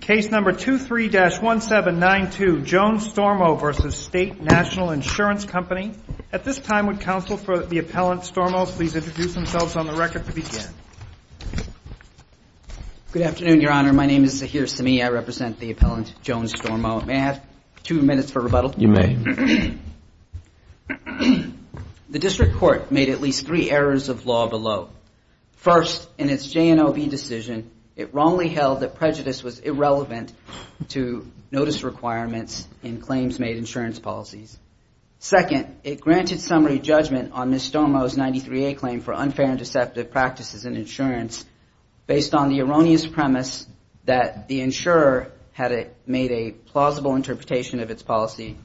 Case number 23-1792 Jones-Stormo v. State National Insurance Company. At this time, would counsel for the appellant, Stormo, please introduce themselves on the record to begin. Good afternoon, Your Honor. My name is Zaheer Semih. I represent the appellant, Jones-Stormo. May I have two minutes for rebuttal? You may. The district court made at least three errors of law below. First, in its JNOB decision, it wrongly held that prejudice was irrelevant to notice requirements in claims made insurance policies. Second, it granted summary judgment on Ms. Stormo's 93A claim for unfair and deceptive practices in insurance based on the erroneous premise that the insurer had made a plausible interpretation of its policy.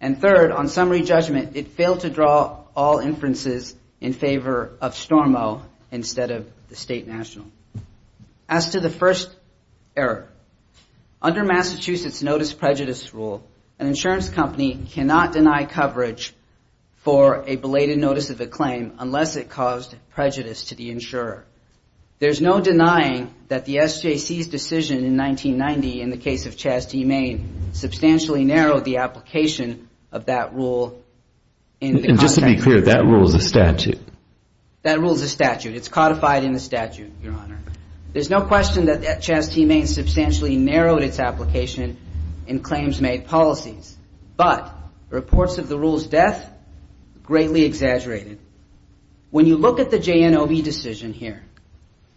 And third, on summary judgment, it failed to draw all inferences in favor of Stormo instead of the State National. As to the first error, under Massachusetts Notice Prejudice Rule, an insurance company cannot deny coverage for a belated notice of a claim unless it caused prejudice to the insurer. There's no denying that the SJC's decision in 1990 in the case of Chaz T. Main substantially narrowed the application of that rule. And just to be clear, that rule is a statute. That rule is a statute. It's codified in the statute, Your Honor. There's no question that Chaz T. Main substantially narrowed its application in claims made policies. But reports of the rule's death, greatly exaggerated. When you look at the JNOB decision here,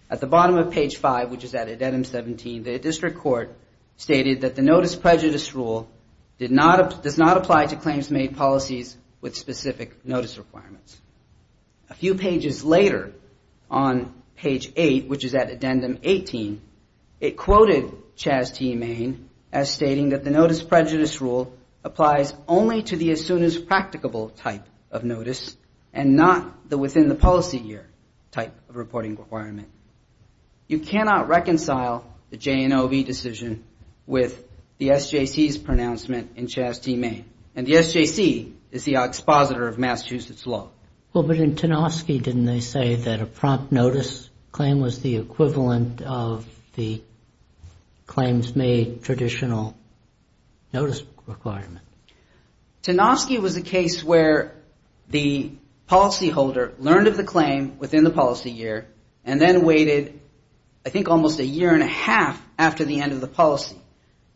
at the bottom of page 5, which is at addendum 17, the district court stated that the Notice Prejudice Rule does not apply to claims made policies with specific notice requirements. A few pages later, on page 8, which is at addendum 18, it quoted Chaz T. Main as stating that the Notice Prejudice Rule applies only to the as-soon-as-practicable type of notice and not the within-the-policy-year type of reporting requirement. You cannot reconcile the JNOB decision with the SJC's pronouncement in Chaz T. Main. And the SJC is the expositor of Massachusetts law. But in Tanofsky, didn't they say that a prompt notice claim was the equivalent of the claims made traditional notice requirement? Tanofsky was a case where the policyholder learned of the claim within the policy year and then waited, I think, almost a year and a half after the end of the policy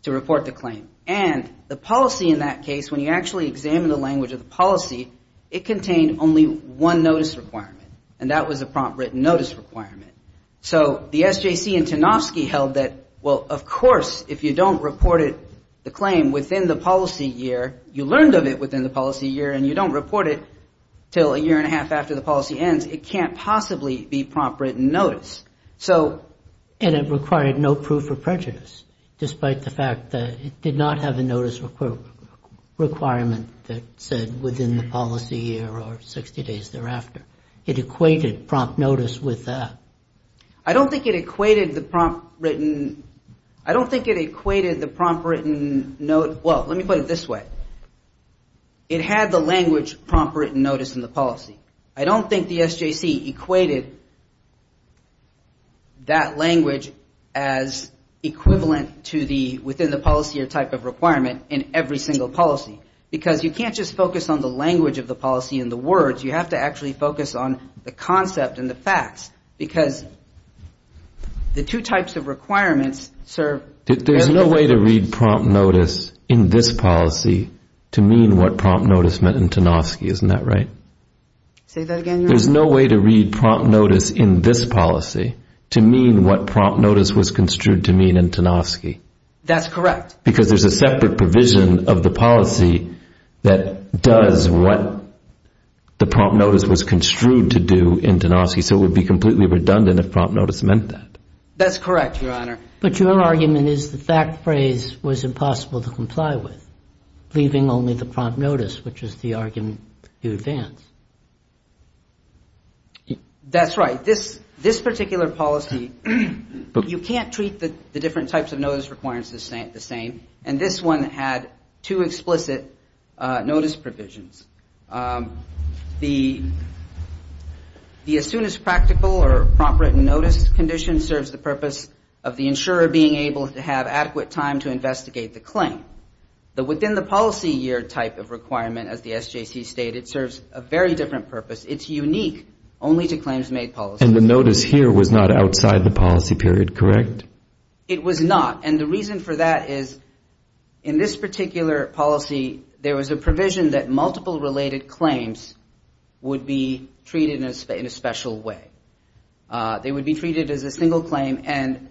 to report the claim. And the policy in that case, when you actually examine the language of the policy, it contained only one notice requirement, and that was a prompt written notice requirement. So the SJC and Tanofsky held that, well, of course, if you don't report the claim within the policy year, you learned of it within the policy year and you don't report it until a year and a half after the policy ends, it can't possibly be prompt written notice. And it required no proof of prejudice, despite the fact that it did not have a notice requirement that said within the policy year or 60 days thereafter. It equated prompt notice with that. I don't think it equated the prompt written, well, let me put it this way. It had the language prompt written notice in the policy. I don't think the SJC equated that language as equivalent to the, within the policy year type of requirement in every single policy. Because you can't just focus on the language of the policy and the words, you have to actually focus on the concept and the facts. Because the two types of requirements serve... There's no way to read prompt notice in this policy to mean what prompt notice meant in Tanofsky, isn't that right? Say that again, Your Honor. There's no way to read prompt notice in this policy to mean what prompt notice was construed to mean in Tanofsky. That's correct. Because there's a separate provision of the policy that does what the prompt notice was construed to do in Tanofsky, so it would be completely redundant if prompt notice meant that. That's correct, Your Honor. But your argument is the fact phrase was impossible to comply with, leaving only the prompt notice, which is the argument you advance. That's right. This particular policy, you can't treat the different types of notice requirements the same, and this one had two explicit notice provisions. The as soon as practical or prompt written notice condition serves the purpose of the insurer being able to have adequate time to investigate the claim. The within the policy year type of requirement, as the SJC stated, serves a very different purpose. It's unique only to claims made policy. And the notice here was not outside the policy period, correct? It was not, and the reason for that is in this particular policy, there was a provision that multiple related claims would be treated in a special way. They would be treated as a single claim, and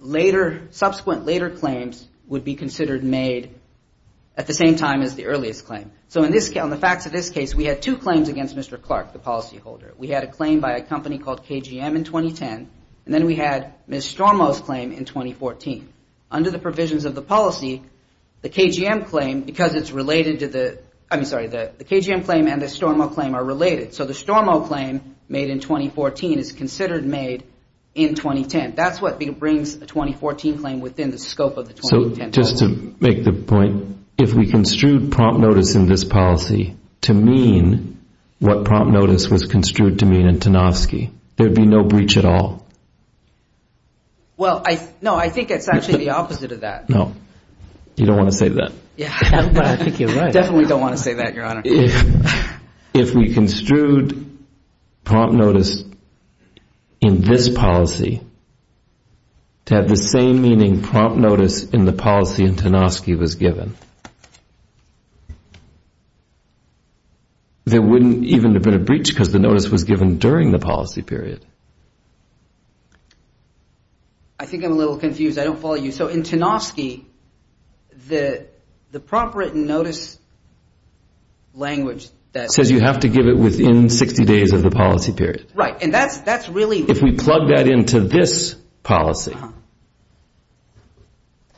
subsequent later claims would be considered made at the same time as the earliest claim. So on the facts of this case, we had two claims against Mr. Clark, the policyholder. We had a claim by a company called KGM in 2010, and then we had Ms. Stormo's claim in 2014. Under the provisions of the policy, the KGM claim and the Stormo claim are related. So the Stormo claim made in 2014 is considered made in 2010. That's what brings a 2014 claim within the scope of the 2010 policy. So just to make the point, if we construed prompt notice in this policy to mean what prompt notice was construed to mean in Tanofsky, there would be no breach at all? Well, no, I think it's actually the opposite of that. No, you don't want to say that. Definitely don't want to say that, Your Honor. If we construed prompt notice in this policy to have the same meaning prompt notice in the policy in Tanofsky was given, there wouldn't even have been a breach because the notice was given during the policy period. I think I'm a little confused. I don't follow you. So in Tanofsky, the prompt written notice language says you have to give it within 60 days of the policy period. Right, and that's really... If we plug that into this policy,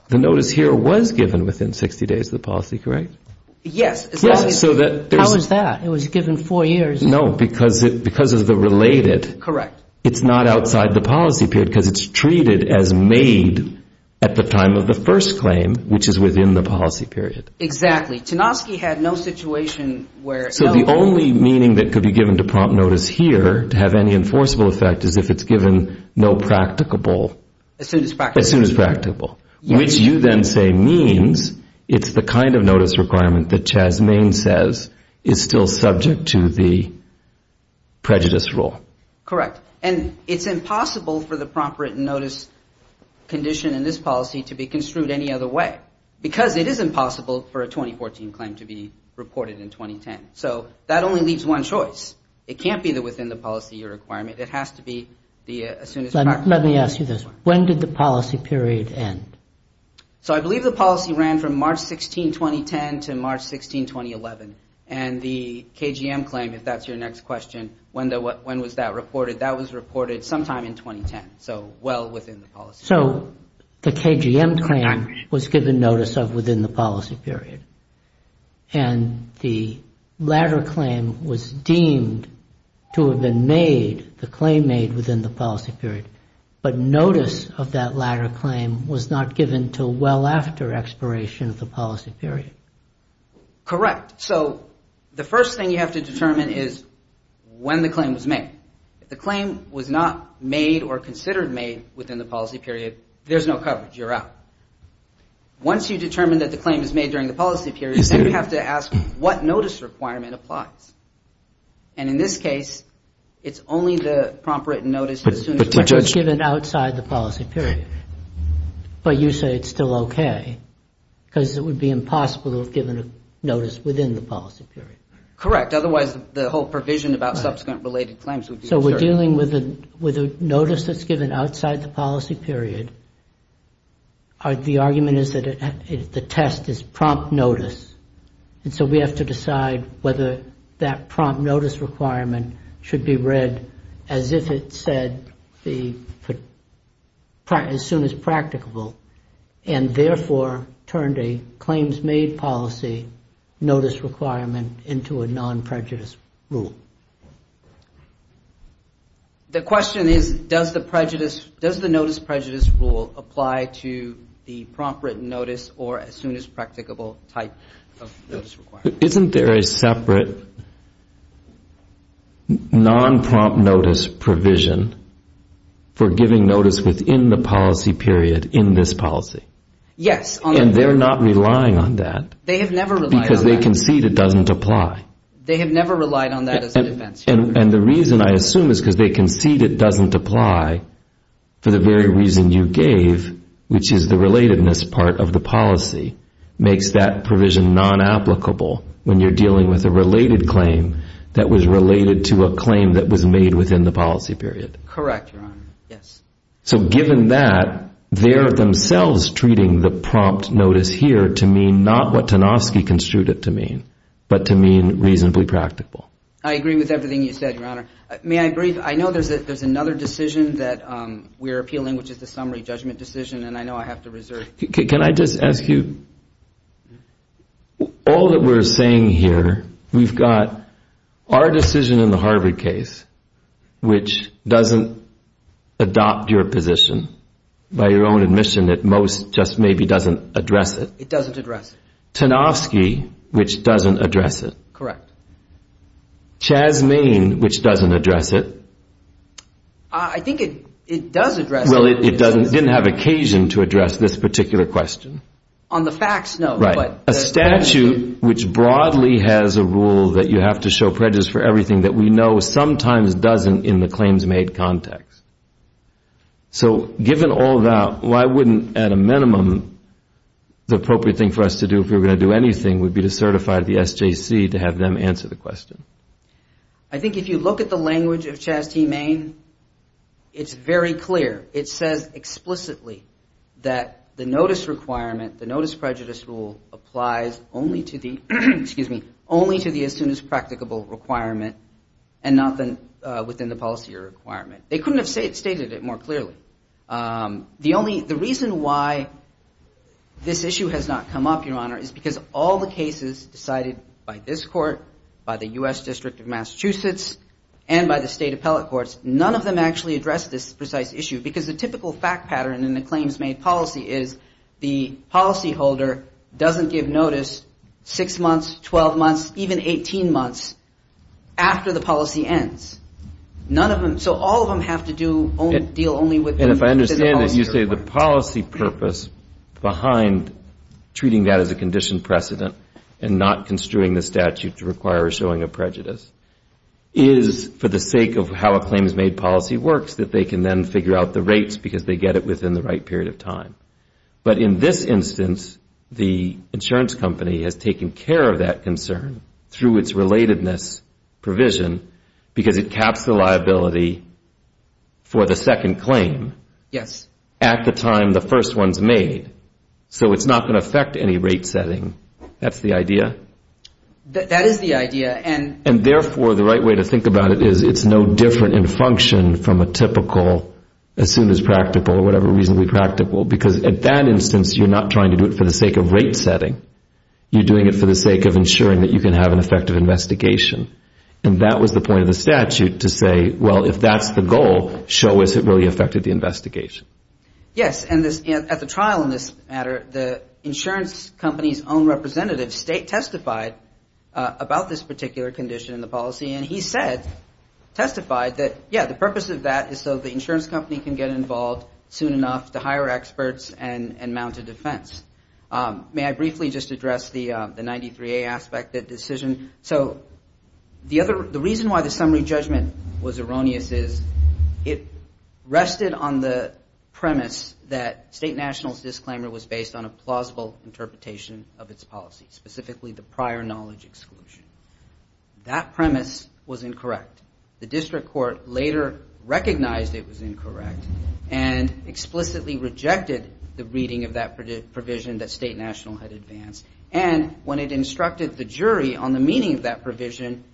the notice here was given within 60 days of the policy, correct? Yes. How is that? It was given four years. No, because of the related. It's not outside the policy period because it's treated as made at the time of the first claim, which is within the policy period. Exactly. Tanofsky had no situation where... The prompt written notice requirement that Jasmaine says is still subject to the prejudice rule. Correct, and it's impossible for the prompt written notice condition in this policy to be construed any other way because it is impossible for a 2014 claim to be reported in 2010. So that only leaves one choice. It can't be within the policy requirement. It has to be as soon as... Let me ask you this. When did the policy period end? So I believe the policy ran from March 16, 2010 to March 16, 2011, and the KGM claim, if that's your next question, when was that reported? That was reported sometime in 2010, so well within the policy period. So the KGM claim was given notice of within the policy period, and the latter claim was deemed to have been made, the claim made within the policy period. But notice of that latter claim was not given until well after expiration of the policy period. Correct. So the first thing you have to determine is when the claim was made. If the claim was not made or considered made within the policy period, there's no coverage. You're out. Once you determine that the claim is made during the policy period, then you have to ask what notice requirement applies. And in this case, it's only the prompt written notice as soon as it's given outside the policy period. But you say it's still okay, because it would be impossible to have given a notice within the policy period. Correct. Otherwise, the whole provision about subsequent related claims would be... So we're dealing with a notice that's given outside the policy period. The argument is that the test is prompt notice. And so we have to decide whether that prompt notice requirement should be read as if it said as soon as practicable, and therefore turned a claims made policy notice requirement into a non-prejudice rule. The question is, does the notice prejudice rule apply to the prompt written notice or as soon as practicable type? Isn't there a separate non-prompt notice provision for giving notice within the policy period in this policy? Yes. And they're not relying on that, because they concede it doesn't apply. They have never relied on that as a defense. And the reason I assume is because they concede it doesn't apply for the very reason you gave, which is the relatedness part of the policy makes that provision non-applicable when you're dealing with a related claim that was related to a claim that was made within the policy period. Correct, Your Honor. Yes. So given that, they're themselves treating the prompt notice here to mean not what Tanofsky construed it to mean, but to mean reasonably practicable. I agree with everything you said, Your Honor. May I agree? I know there's another decision that we're appealing, which is the summary judgment decision, and I know I have to reserve. Can I just ask you, all that we're saying here, we've got our decision in the Harvard case, which doesn't adopt your position, by your own admission at most, just maybe doesn't address it. It doesn't address it. Tanofsky, which doesn't address it. Correct. Chasmaine, which doesn't address it. I think it does address it. Well, it didn't have occasion to address this particular question. A statute which broadly has a rule that you have to show prejudice for everything that we know sometimes doesn't in the claims made context. So given all that, why wouldn't, at a minimum, the appropriate thing for us to do if we were going to do anything, would be to certify the SJC to have them answer the question? I think if you look at the language of Chasmaine, it's very clear. It says explicitly that the notice requirement, the notice prejudice rule, applies only to the, excuse me, only to the as soon as practicable requirement, and not within the policy requirement. They couldn't have stated it more clearly. The reason why this issue has not come up, Your Honor, is because all the cases decided by this court, by the U.S. District of Massachusetts, and by the state appellate courts, none of them actually address this precise issue, because the typical fact pattern in the claims made policy is the policyholder doesn't give notice six months, twelve months, even 18 months, after the policy ends. None of them, so all of them have to do, deal only with the policy. And if I understand it, you say the policy purpose behind treating that as a condition precedent and not construing the statute to require showing a prejudice is for the sake of how a claims made policy works, that they can then figure out the rates, because they get it within the right period of time. Through its relatedness provision, because it caps the liability for the second claim at the time the first one's made. So it's not going to affect any rate setting. That's the idea? That is the idea, and therefore the right way to think about it is it's no different in function from a typical as soon as practical, or whatever reasonably practical, because at that instance you're not trying to do it for the sake of rate setting. You're doing it for the sake of ensuring that you can have an effective investigation. And that was the point of the statute to say, well, if that's the goal, show us it really affected the investigation. Yes, and at the trial in this matter, the insurance company's own representative state testified about this particular condition in the policy, and he said, testified that, yes, the purpose of that is so the insurance company can get involved soon enough to hire experts and mount a defense. May I briefly just address the 93A aspect of the decision? So the reason why the summary judgment was erroneous is it rested on the premise that state nationals disclaimer was based on a plausible interpretation of its policy, specifically the prior knowledge exclusion. That premise was incorrect. The district court later recognized it was incorrect and explicitly rejected the reading of that provision that state national had advanced. And when it instructed the jury on the meaning of that provision,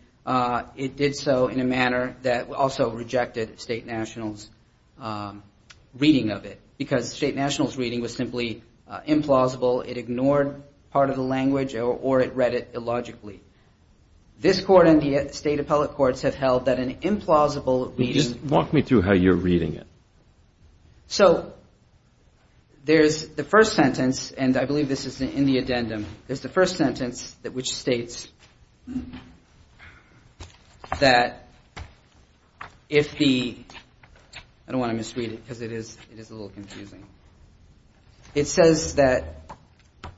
it did so in a manner that also rejected state nationals reading of it, because state nationals reading was simply implausible. It ignored part of the language or it read it illogically. This court and the state appellate courts have held that an implausible reading... Just walk me through how you're reading it. So there's the first sentence, and I believe this is in the addendum, there's the first sentence which states that if the, I don't want to misread it because it is a little confusing. It says that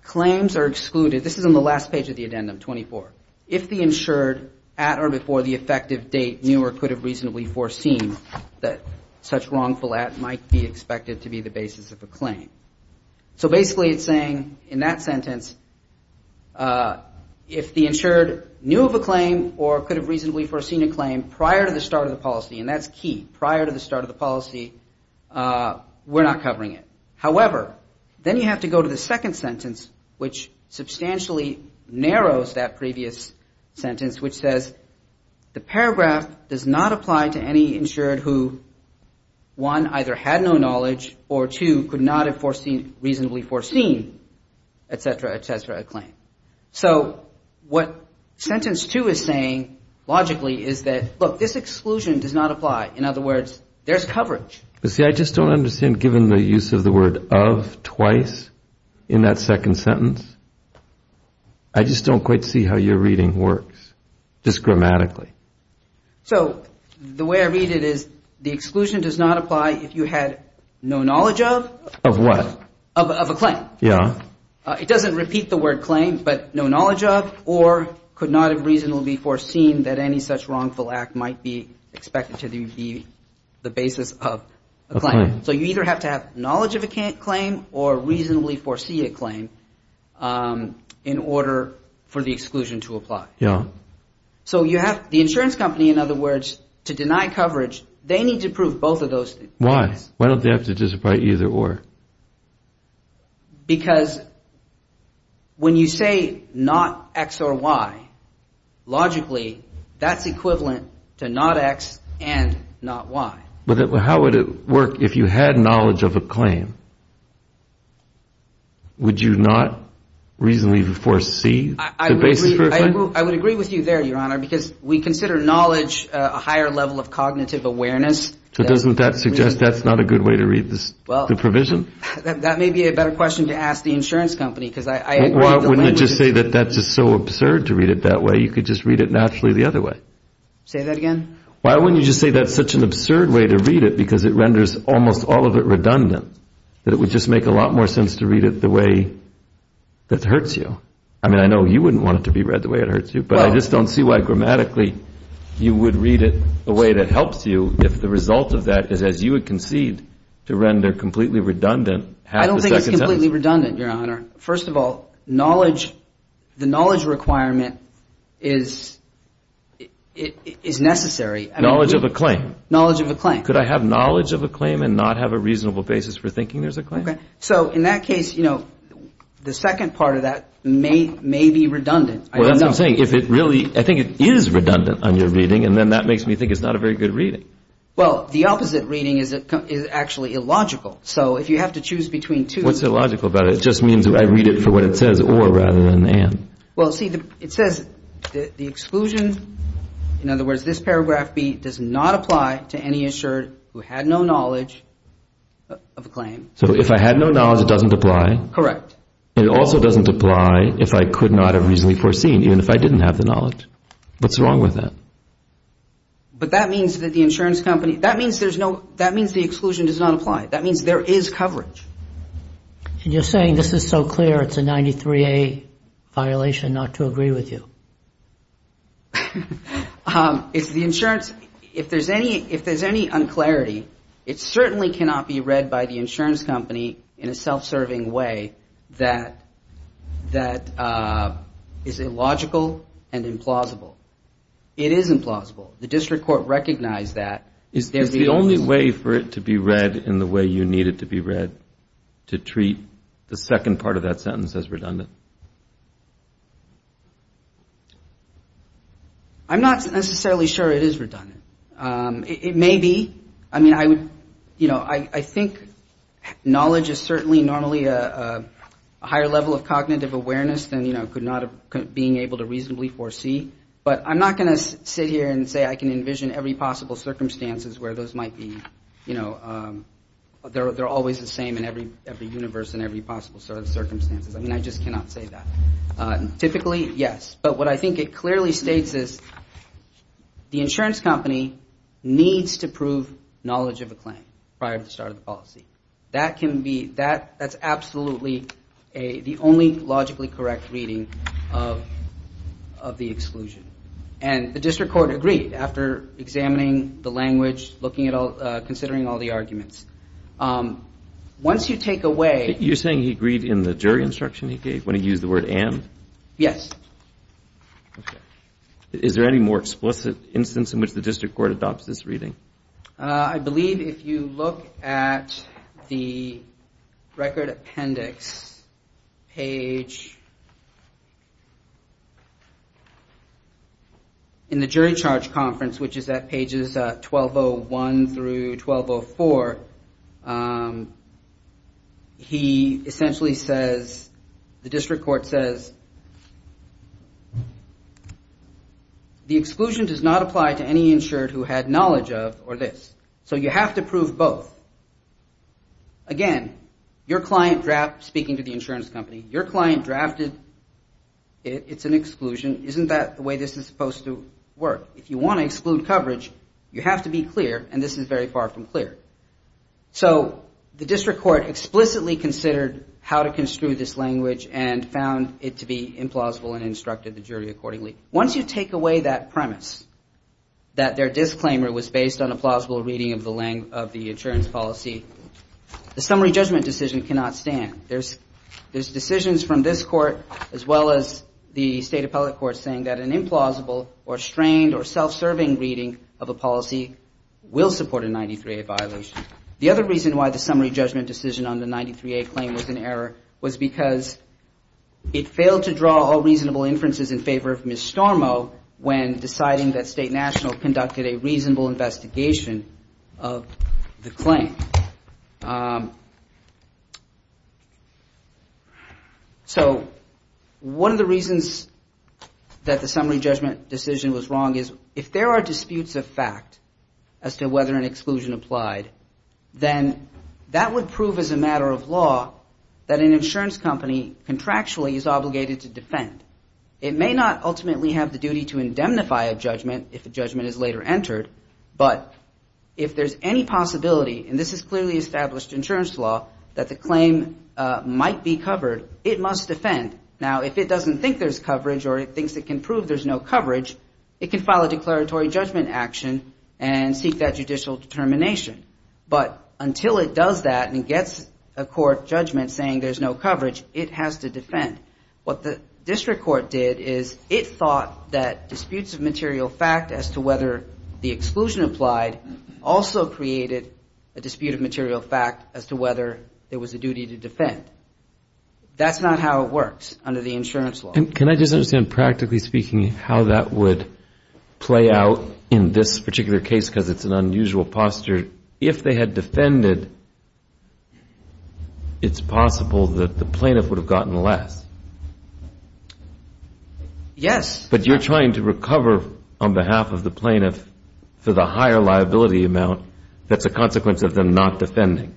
claims are excluded. This is on the last page of the addendum, 24. If the insured at or before the effective date knew or could have reasonably foreseen that such wrongful at might be expected to be the basis of a claim. So basically it's saying in that sentence, if the insured knew of a claim or could have reasonably foreseen a claim prior to the start of the policy, and that's key, prior to the start of the policy, we're not covering it. However, then you have to go to the second sentence, which substantially narrows that previous sentence, which says the paragraph does not apply to any insured who, one, either had no knowledge or, two, could not have reasonably foreseen, et cetera, et cetera, a claim. So what sentence two is saying logically is that, look, this exclusion does not apply. In other words, there's coverage. I just don't quite see how your reading works, just grammatically. So the way I read it is the exclusion does not apply if you had no knowledge of? Of what? Of a claim. It doesn't repeat the word claim, but no knowledge of or could not have reasonably foreseen that any such wrongful act might be expected to be the basis of a claim. So you either have to have knowledge of a claim or reasonably foresee a claim in order for the exclusion to apply. So you have the insurance company, in other words, to deny coverage, they need to prove both of those things. Why? Why don't they have to just write either or? Because when you say not X or Y, logically that's equivalent to not X and not Y. But how would it work if you had knowledge of a claim? Would you not reasonably foresee the basis for a claim? I would agree with you there, Your Honor, because we consider knowledge a higher level of cognitive awareness. So doesn't that suggest that's not a good way to read the provision? That may be a better question to ask the insurance company. Why wouldn't you just say that that's just so absurd to read it that way, you could just read it naturally the other way? Say that again? Why wouldn't you just say that's such an absurd way to read it because it renders almost all of it redundant, that it would just make a lot more sense to read it the way that hurts you? I mean, I know you wouldn't want it to be read the way it hurts you, but I just don't see why grammatically you would read it the way that helps you if the result of that is as you would concede to render completely redundant half a second sentence. It's completely redundant, Your Honor. First of all, knowledge, the knowledge requirement is necessary. Knowledge of a claim? Knowledge of a claim. Could I have knowledge of a claim and not have a reasonable basis for thinking there's a claim? Okay. So in that case, you know, the second part of that may be redundant. I don't know. I'm saying if it really, I think it is redundant on your reading, and then that makes me think it's not a very good reading. Well, the opposite reading is actually illogical. So if you have to choose between two... What's illogical about it? It just means I read it for what it says or rather than an. Well, see, it says the exclusion, in other words, this paragraph B does not apply to any assured who had no knowledge of a claim. So if I had no knowledge, it doesn't apply? Correct. It also doesn't apply if I could not have reasonably foreseen, even if I didn't have the knowledge. What's wrong with that? But that means that the insurance company, that means there's no, that means the exclusion does not apply. That means there is coverage. And you're saying this is so clear it's a 93A violation not to agree with you. It's the insurance, if there's any, if there's any unclarity, it certainly cannot be read by the insurance company in a self-serving way. That is illogical and implausible. It is implausible. The district court recognized that. Is the only way for it to be read in the way you need it to be read to treat the second part of that sentence as redundant? I'm not necessarily sure it is redundant. It may be. I mean, I would, you know, I think knowledge is certainly normally a higher level of cognitive awareness than, you know, could not have been able to reasonably foresee. But I'm not going to sit here and say I can envision every possible circumstances where those might be, you know, they're always the same in every universe and every possible sort of circumstances. I mean, I just cannot say that. Typically, yes. But what I think it clearly states is the insurance company needs to prove knowledge of a claim prior to the start of the policy. That can be that. That's absolutely the only logically correct reading of the exclusion. And the district court agreed after examining the language, looking at all, considering all the arguments. Once you take away. You're saying he agreed in the jury instruction he gave when he used the word and. Yes. Is there any more explicit instance in which the district court adopts this reading? The record appendix page. In the jury charge conference, which is at pages 1201 through 1204. He essentially says the district court says. The exclusion does not apply to any insured who had knowledge of or this. So you have to prove both. Again, your client draft speaking to the insurance company, your client drafted. It's an exclusion. Isn't that the way this is supposed to work? If you want to exclude coverage, you have to be clear. And this is very far from clear. So the district court explicitly considered how to construe this language and found it to be implausible and instructed the jury accordingly. Once you take away that premise that their disclaimer was based on a plausible reading of the length of the insurance policy, the summary judgment decision cannot stand. There's there's decisions from this court, as well as the state appellate court, saying that an implausible or strained or self-serving reading of a policy will support a 93A violation. The other reason why the summary judgment decision on the 93A claim was an error was because it failed to draw all reasonable inferences in favor of Ms. Stormo when deciding that State National conducted a reasonable investigation of the claim. So one of the reasons that the summary judgment decision was wrong is if there are disputes of fact as to whether an exclusion applied, then that would prove as a matter of law that an exclusion applied. It may not ultimately have the duty to indemnify a judgment if a judgment is later entered, but if there's any possibility, and this is clearly established insurance law, that the claim might be covered, it must defend. Now, if it doesn't think there's coverage or it thinks it can prove there's no coverage, it can file a declaratory judgment action and seek that judicial determination. But until it does that and gets a court judgment saying there's no coverage, it has to defend. What the district court did is it thought that disputes of material fact as to whether the exclusion applied also created a dispute of material fact as to whether there was a duty to defend. That's not how it works under the insurance law. And can I just understand practically speaking how that would play out in this particular case because it's an unusual posture. If they had defended, it's possible that the plaintiff would have gotten less. Yes. But you're trying to recover on behalf of the plaintiff for the higher liability amount that's a consequence of them not defending.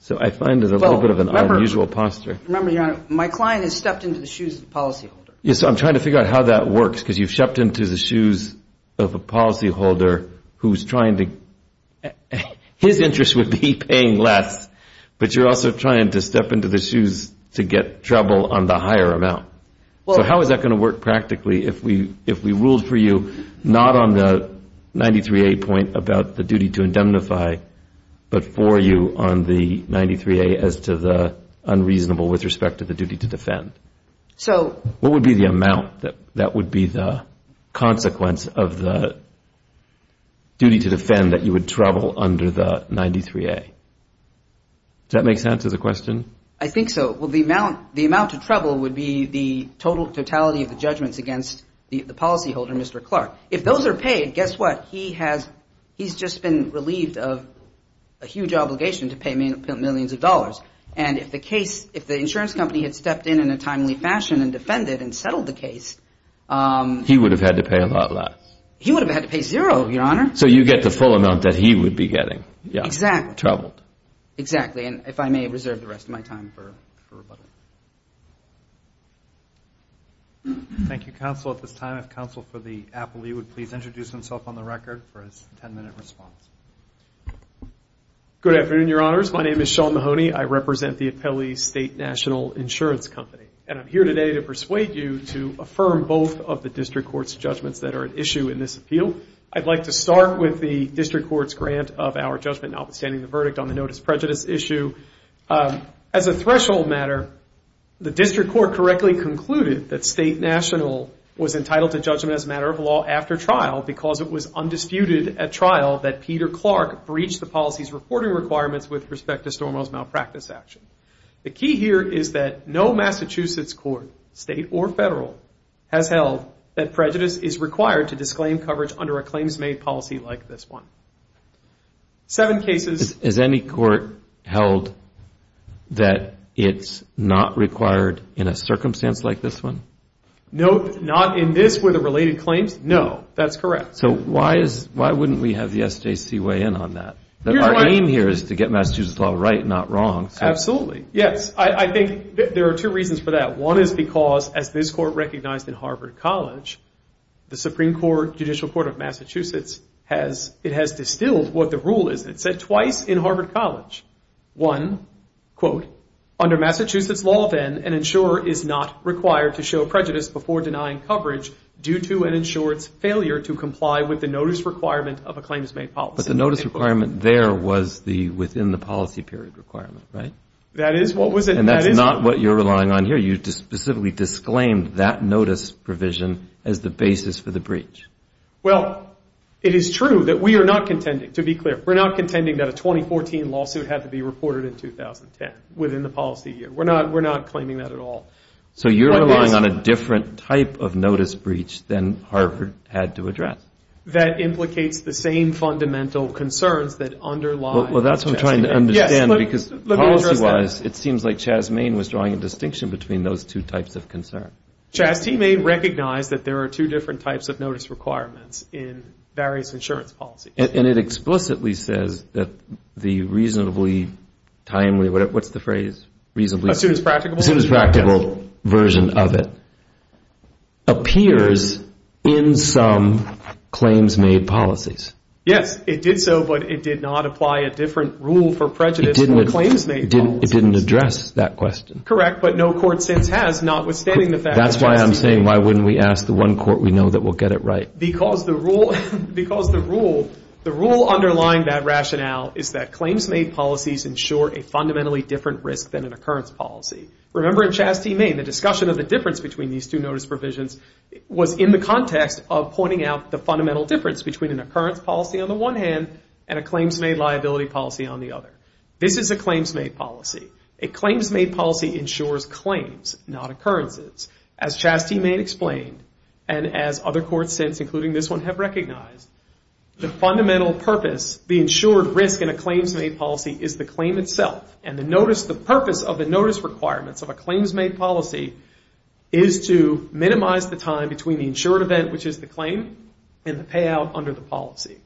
So I find there's a little bit of an unusual posture. Remember, Your Honor, my client has stepped into the shoes of the policyholder. Yes, I'm trying to figure out how that works because you've stepped into the shoes of a policyholder who's trying to, his interest would be to be paying less, but you're also trying to step into the shoes to get trouble on the higher amount. So how is that going to work practically if we ruled for you not on the 93A point about the duty to indemnify, but for you on the 93A as to the unreasonable with respect to the duty to defend? What would be the amount that would be the consequence of the duty to defend that you would trouble under the 93A? Does that make sense of the question? I think so. Well, the amount to trouble would be the totality of the judgments against the policyholder, Mr. Clark. If those are paid, guess what? He's just been relieved of a huge obligation to pay millions of dollars. And if the insurance company had stepped in in a timely fashion and defended and settled the case... Exactly. And if I may reserve the rest of my time for rebuttal. Thank you, Counsel. At this time, if Counsel for the appellee would please introduce himself on the record for his ten-minute response. Good afternoon, Your Honors. My name is Sean Mahoney. I represent the Appellee State National Insurance Company. And I'm here today to persuade you to affirm both of the district court's judgments that are at issue in this appeal. I'd like to start with the district court's grant of our judgment, notwithstanding the verdict on the notice prejudice issue. As a threshold matter, the district court correctly concluded that State National was entitled to judgment as a matter of law after trial because it was undisputed at trial that Peter Clark breached the policy's reporting requirements with respect to Stormwell's malpractice action. The key here is that no Massachusetts court, state or federal, has held that prejudice is required to disclaim coverage under a claims-made policy like this one. Seven cases. Has any court held that it's not required in a circumstance like this one? No, not in this with the related claims. No, that's correct. So why wouldn't we have the SJC weigh in on that? Our aim here is to get Massachusetts law right, not wrong. Absolutely, yes. I think there are two reasons for that. One is because, as this court recognized in Harvard College, the Supreme Court, Judicial Court of Massachusetts, it has distilled what the rule is. It said twice in Harvard College. One, quote, under Massachusetts law, then, an insurer is not required to show prejudice before denying coverage due to an insurer's failure to comply with the notice requirement of a claims-made policy. But the notice requirement there was within the policy period requirement, right? That is what was it. And that's not what you're relying on here. You specifically disclaimed that notice provision as the basis for the policy. We're not contending that a 2014 lawsuit had to be reported in 2010 within the policy year. We're not claiming that at all. So you're relying on a different type of notice breach than Harvard had to address. That implicates the same fundamental concerns that underlie... Well, that's what I'm trying to understand, because policy-wise, it seems like Chaz Main was drawing a distinction between those two types of concern. Chaz T. Main recognized that there are two different types of notice requirements in various insurance policies. And it explicitly says that the reasonably timely, what's the phrase, reasonably... As soon as practical? As soon as practical version of it appears in some claims-made policies. Yes, it did so, but it did not apply a different rule for prejudice than the claims-made policies. It didn't address that question. That's why I'm saying, why wouldn't we ask the one court we know that will get it right? Because the rule underlying that rationale is that claims-made policies ensure a fundamentally different risk than an occurrence policy. Remember in Chaz T. Main, the discussion of the difference between these two notice provisions was in the context of pointing out the fundamental difference between an occurrence policy on the one hand and a claims-made liability policy on the other. This is a claims-made policy. A claims-made policy ensures claims, not occurrences. As Chaz T. Main explained, and as other courts since, including this one, have recognized, the fundamental purpose, the insured risk in a claims-made policy is the claim itself. And the purpose of the notice requirements of a claims-made policy is to minimize the time between the insured event, which is the claim, and the payout under the policy.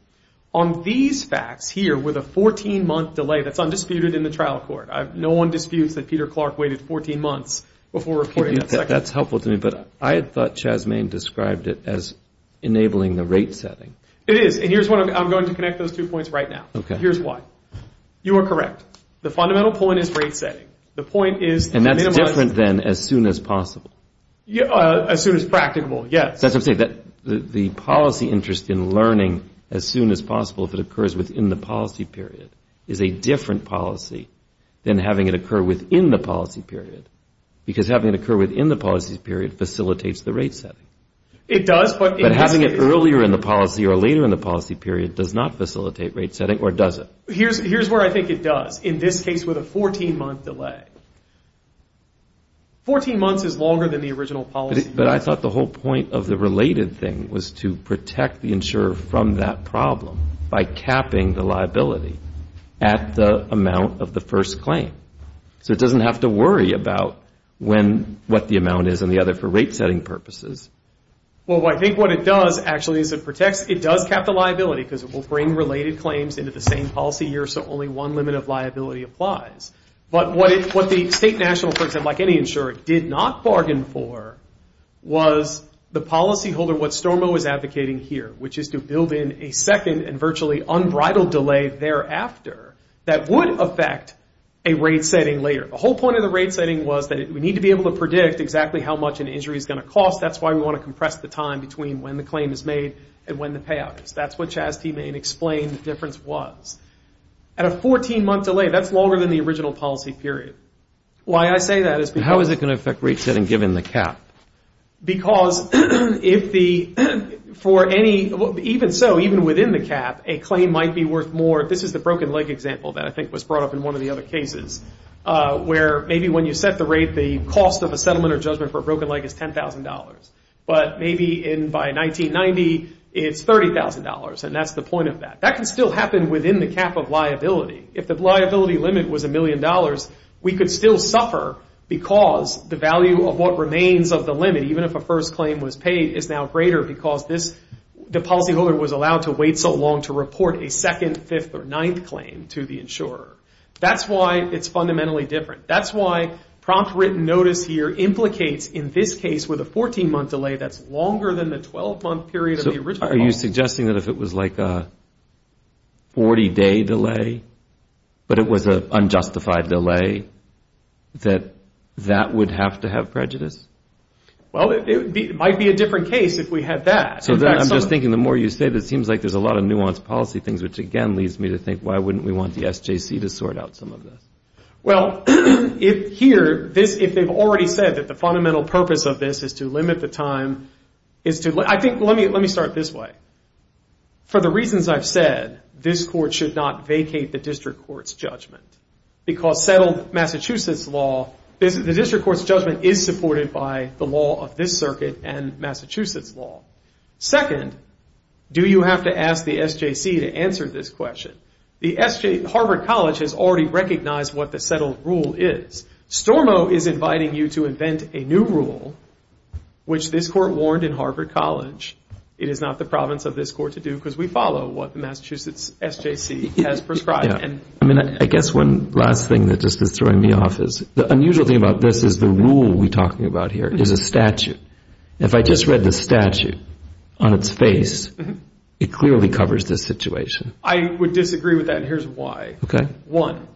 On these facts here, with a 14-month delay, that's undisputed in the trial court. No one disputes that Peter Clark waited 14 months before reporting that second. That's helpful to me, but I thought Chaz T. Main described it as enabling the rate setting. It is, and here's what I'm going to connect those two points right now. Here's why. You are correct. The fundamental point is rate setting. The point is to minimize. As soon as practicable, yes. The policy interest in learning as soon as possible, if it occurs within the policy period, is a different policy than having it occur within the policy period, because having it occur within the policy period facilitates the rate setting. It does, but in this case. But having it earlier in the policy or later in the policy period does not facilitate rate setting, or does it? Here's where I think it does, in this case with a 14-month delay. 14 months is longer than the original policy period. But I thought the whole point of the related thing was to protect the insurer from that problem by capping the liability at the amount of the first claim. So it doesn't have to worry about what the amount is and the other for rate setting purposes. Well, I think what it does, actually, is it protects, it does cap the liability, because it will bring related claims into the same policy year, so only one limit of liability applies. But what the state national, for example, like any insurer, did not bargain for was the policyholder, what Stormo is advocating here, which is to build in a second and virtually unbridled delay thereafter that would affect a rate setting later. The whole point of the rate setting was that we need to be able to predict exactly how much an injury is going to cost. That's why we want to compress the time between when the claim is made and when the payout is. That's what Chastity explained the difference was. At a 14-month delay, that's longer than the original policy period. Why I say that is because... where maybe when you set the rate, the cost of a settlement or judgment for a broken leg is $10,000. But maybe by 1990, it's $30,000, and that's the point of that. That can still happen within the cap of liability. If the liability limit was $1 million, we could still suffer because the value of what remains of the limit, even if a first claim was paid, is now greater because the policyholder was allowed to wait so long to report a second, fifth, or ninth claim to the insurer. That's why it's fundamentally different. That's why prompt written notice here implicates in this case with a 14-month delay that's longer than the 12-month period of the original policy. Are you suggesting that if it was like a 40-day delay, but it was an unjustified delay, that that would have to have prejudice? Well, it might be a different case if we had that. I'm just thinking the more you say this, it seems like there's a lot of nuanced policy things, which again leads me to think, why wouldn't we want the SJC to sort out some of this? Well, here, if they've already said that the fundamental purpose of this is to limit the time... Let me start this way. For the reasons I've said, this court should not vacate the district court's judgment. Because settled Massachusetts law... The district court's judgment is supported by the law of this circuit and Massachusetts law. Second, do you have to ask the SJC to answer this question? Harvard College has already recognized what the settled rule is. Stormo is inviting you to invent a new rule, which this court warned in Harvard College it is not the province of this court to do, because we follow what the Massachusetts SJC has prescribed. I guess one last thing that just is throwing me off is, the unusual thing about this is the rule we're talking about here is a statute. If I just read the statute on its face, it clearly covers this situation. I would disagree with that, and here's why. One,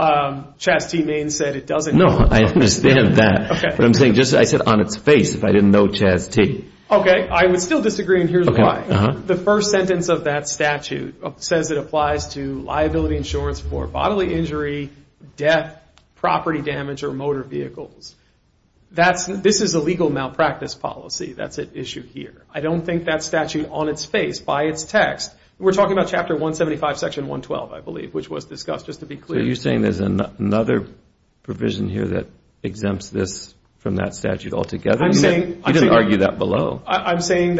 Chaz T. Maine said it doesn't. No, I understand that. I said on its face, if I didn't know Chaz T. Okay, I would still disagree, and here's why. The first sentence of that statute says it applies to liability insurance for bodily injury, death, property damage, or motor vehicles. This is a legal malpractice policy. That's at issue here. I don't think that statute, on its face, by its text... We're talking about Chapter 175, Section 112, I believe, which was discussed, just to be clear. So you're saying there's another provision here that exempts this from that statute altogether? You didn't argue that below. We argued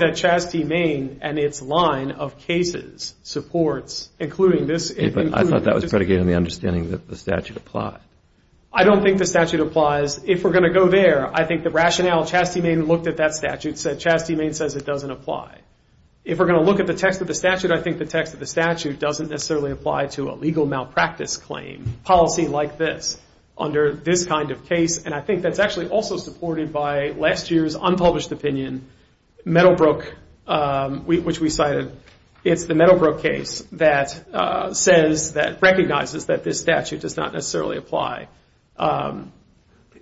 that Chaz T. Maine and its line of cases supports, including this... I thought that was predicated on the understanding that the statute applied. I don't think the statute applies. If we're going to go there, I think the rationale Chaz T. Maine looked at that statute said Chaz T. Maine says it doesn't apply. If we're going to look at the text of the statute, I think the text of the statute doesn't necessarily apply to a legal malpractice claim, policy like this, under this kind of case. And I think that's actually also supported by last year's unpublished opinion, which we cited. It's the Meadowbrook case that recognizes that this statute does not necessarily apply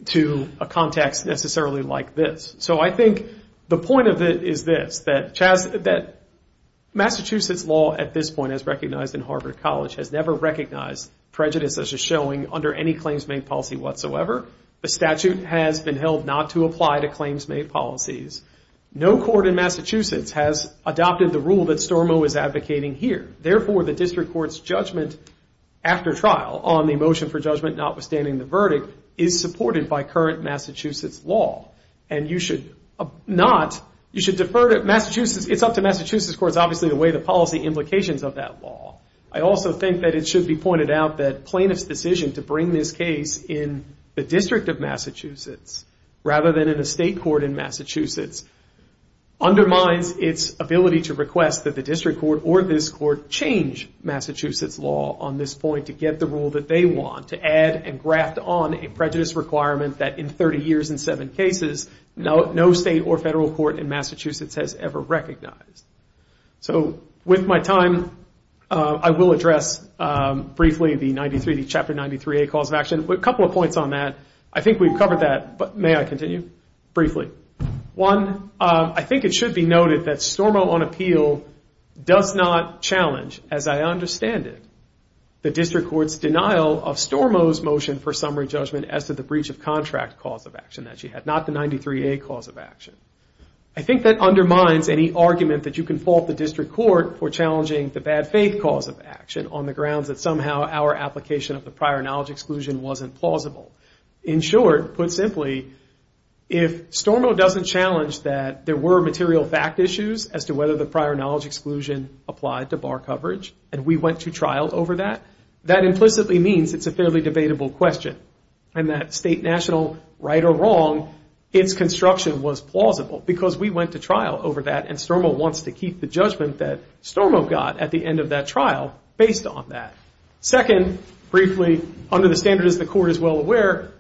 to a context necessarily like this. So I think the point of it is this, that Massachusetts law at this point, as recognized in Harvard College, has never recognized prejudice as a showing under any claims-made policy whatsoever. The statute has been held not to apply to claims-made policies. No court in Massachusetts has adopted the rule that Stormo is advocating here. Therefore, the district court's judgment after trial on the motion for judgment notwithstanding the verdict is supported by current Massachusetts law. It's up to Massachusetts courts, obviously, the way the policy implications of that law. I also think that it should be pointed out that plaintiff's decision to bring this case in the district of Massachusetts rather than in a state court in Massachusetts undermines its ability to request that the district court or this court change Massachusetts law on this point to get the rule that they want, to add and graft on a prejudice requirement that in 30 years and seven cases, no state or federal court in Massachusetts has ever recognized. So with my time, I will address briefly the chapter 93A cause of action. A couple of points on that. I think we've covered that, but may I continue? Briefly. One, I think it should be noted that Stormo on appeal does not challenge, as I understand it, the district court's denial of Stormo's motion for summary judgment as to the breach of contract cause of action that she had, not the 93A cause of action. I think that undermines any argument that you can fault the district court for challenging the bad faith cause of action on the grounds that somehow our application of the prior knowledge exclusion wasn't plausible. In short, put simply, if Stormo doesn't challenge that there were material fact issues as to whether the prior knowledge exclusion applied to bar coverage, and we went to trial over that, that implicitly means it's a fairly debatable question, and that state, national, right or wrong, its construction was plausible, because we went to trial over that, and Stormo wants to keep the judgment that Stormo got at the end of that trial based on that. Second, briefly, under the standards the court is well aware,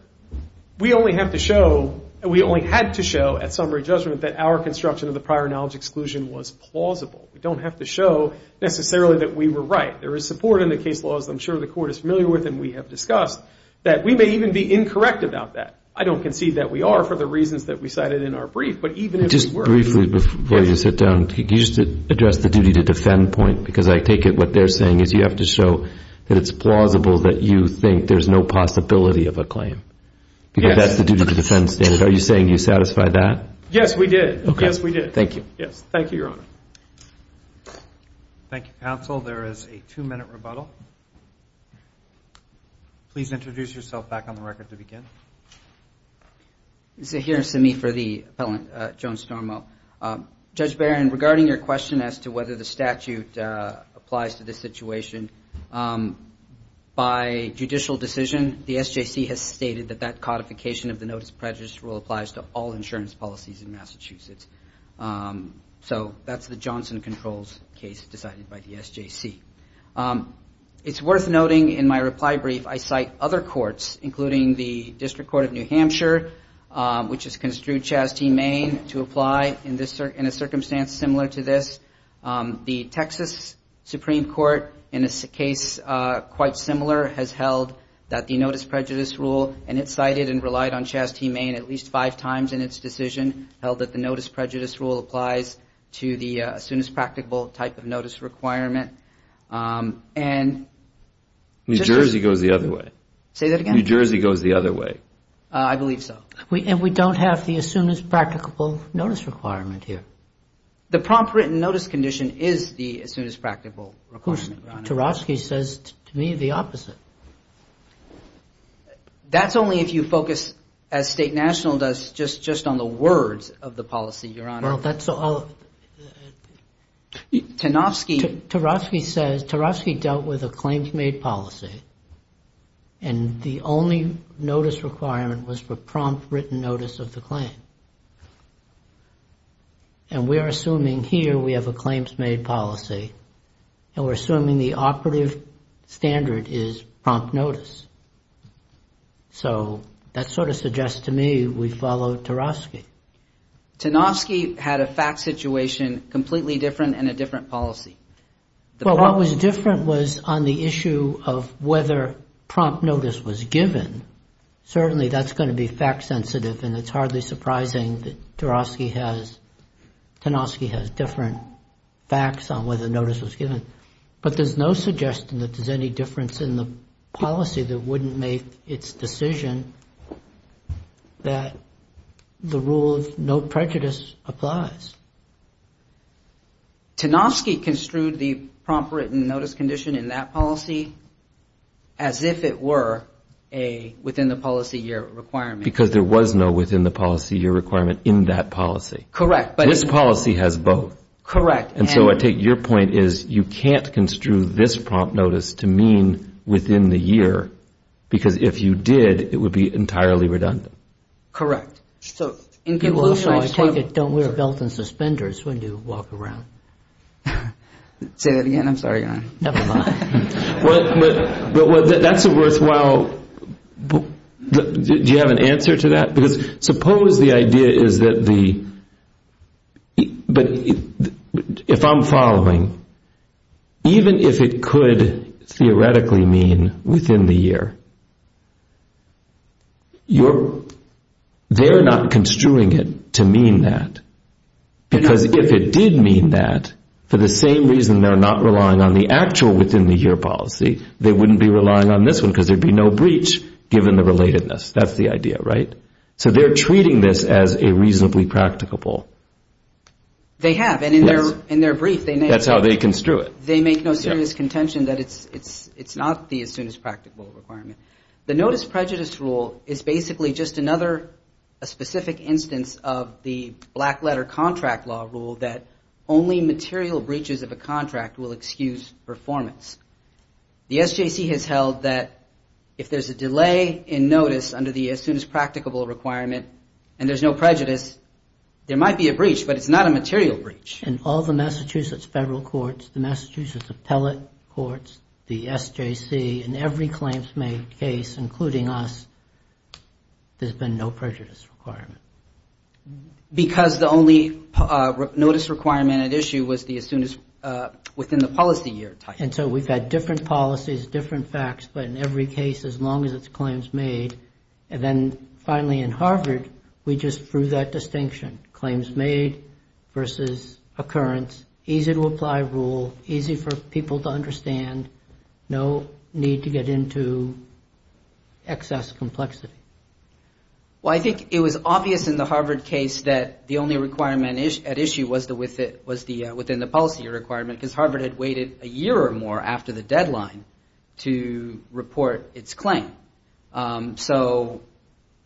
we only have to show, we only had to show at summary judgment that our construction of the prior knowledge exclusion was plausible. We don't have to show necessarily that we were right. There is support in the case law, as I'm sure the court is familiar with and we have discussed, that we may even be incorrect about that. I don't concede that we are for the reasons that we cited in our brief, but even if we were... Just briefly, before you sit down, can you just address the duty to defend point, because I take it what they're saying is you have to show that it's plausible that you think there's no possibility of a claim, because that's the duty to defend standard. Are you saying you satisfy that? Yes, we did. Yes, we did. Thank you, Your Honor. Thank you, counsel. There is a two-minute rebuttal. Please introduce yourself back on the record to begin. Here's to me for the appellant, Joan Stormo. Judge Barron, regarding your question as to whether the statute applies to this situation, by judicial decision, the SJC has stated that that codification of the notice of prejudice rule applies to all insurance policies in Massachusetts. So that's the Johnson Controls case decided by the SJC. It's worth noting in my reply brief I cite other courts, including the District Court of New Hampshire, which has construed Chaz T. Main to apply in a circumstance similar to this. The Texas Supreme Court, in a case quite similar, has held that the notice prejudice rule, and it cited and relied on Chaz T. Main at least five times in its decision, held that the notice prejudice rule applies to the as soon as practicable type of notice requirement. New Jersey goes the other way. I believe so. And we don't have the as soon as practicable notice requirement here. The prompt written notice condition is the as soon as practicable requirement. Tarofsky says to me the opposite. That's only if you focus, as State National does, just on the words of the policy, Your Honor. Tarofsky says Tarofsky dealt with a claims made policy, and the only notice requirement was for prompt written notice of the claim. And we are assuming here we have a claims made policy, and we're assuming the operative standard is prompt notice. So that sort of suggests to me we follow Tarofsky. Tarofsky had a fact situation completely different and a different policy. Well, what was different was on the issue of whether prompt notice was given. Certainly that's going to be fact sensitive, and it's hardly surprising that Tarofsky has, Tanofsky has different facts on whether notice was given. But there's no suggestion that there's any difference in the policy that wouldn't make its decision that the rule of no prejudice applies. Tanofsky construed the prompt written notice condition in that policy as if it were a policy. Within the policy year requirement. Because there was no within the policy year requirement in that policy. This policy has both. Correct. And so I take your point is you can't construe this prompt notice to mean within the year, because if you did, it would be entirely redundant. Correct. Don't wear a belt and suspenders when you walk around. Say that again, I'm sorry. Do you have an answer to that? Because suppose the idea is that if I'm following, even if it could theoretically mean within the year, they're not construing it to mean that. Because if it did mean that, for the same reason they're not relying on the actual within the year policy, they wouldn't be relying on this one because there would be no breach given the relatedness. That's the idea, right? So they're treating this as a reasonably practicable. They have and in their brief, that's how they construe it. They make no serious contention that it's not the as soon as practicable requirement. The notice prejudice rule is basically just another specific instance of the black letter contract law rule that only material breaches of a contract will excuse performance. The SJC has held that if there's a delay in notice under the as soon as practicable requirement and there's no prejudice, there might be a breach, but it's not a material breach. In all the Massachusetts federal courts, the Massachusetts appellate courts, the SJC, in every claims made case, including us, there's been no prejudice requirement. Because the only notice requirement at issue was the as soon as within the policy year type. And so we've had different policies, different facts, but in every case, as long as it's claims made. And then finally in Harvard, we just threw that distinction. Claims made versus occurrence, easy to apply rule, easy for people to understand, no need to get into excess complexity. Well, I think it was obvious in the Harvard case that the only requirement at issue was the within the policy requirement. Because Harvard had waited a year or more after the deadline to report its claim. So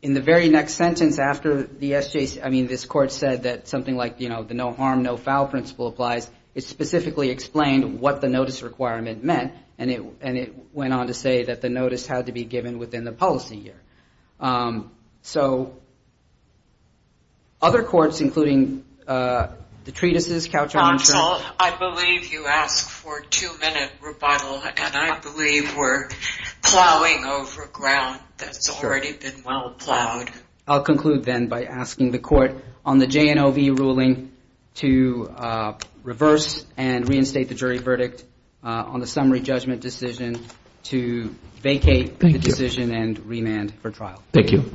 in the very next sentence after the SJC, I mean, this court said that something like the no harm, no foul principle applies, it specifically explained what the notice requirement meant. And it went on to say that the notice had to be given within the policy year. So other courts, including the treatises. I believe you asked for a two minute rebuttal, and I believe we're plowing over ground. That's already been well plowed. I'll conclude then by asking the court on the JNOV ruling to reverse and reinstate the jury verdict on the summary judgment decision to vacate the decision and remand for trial. Thank you.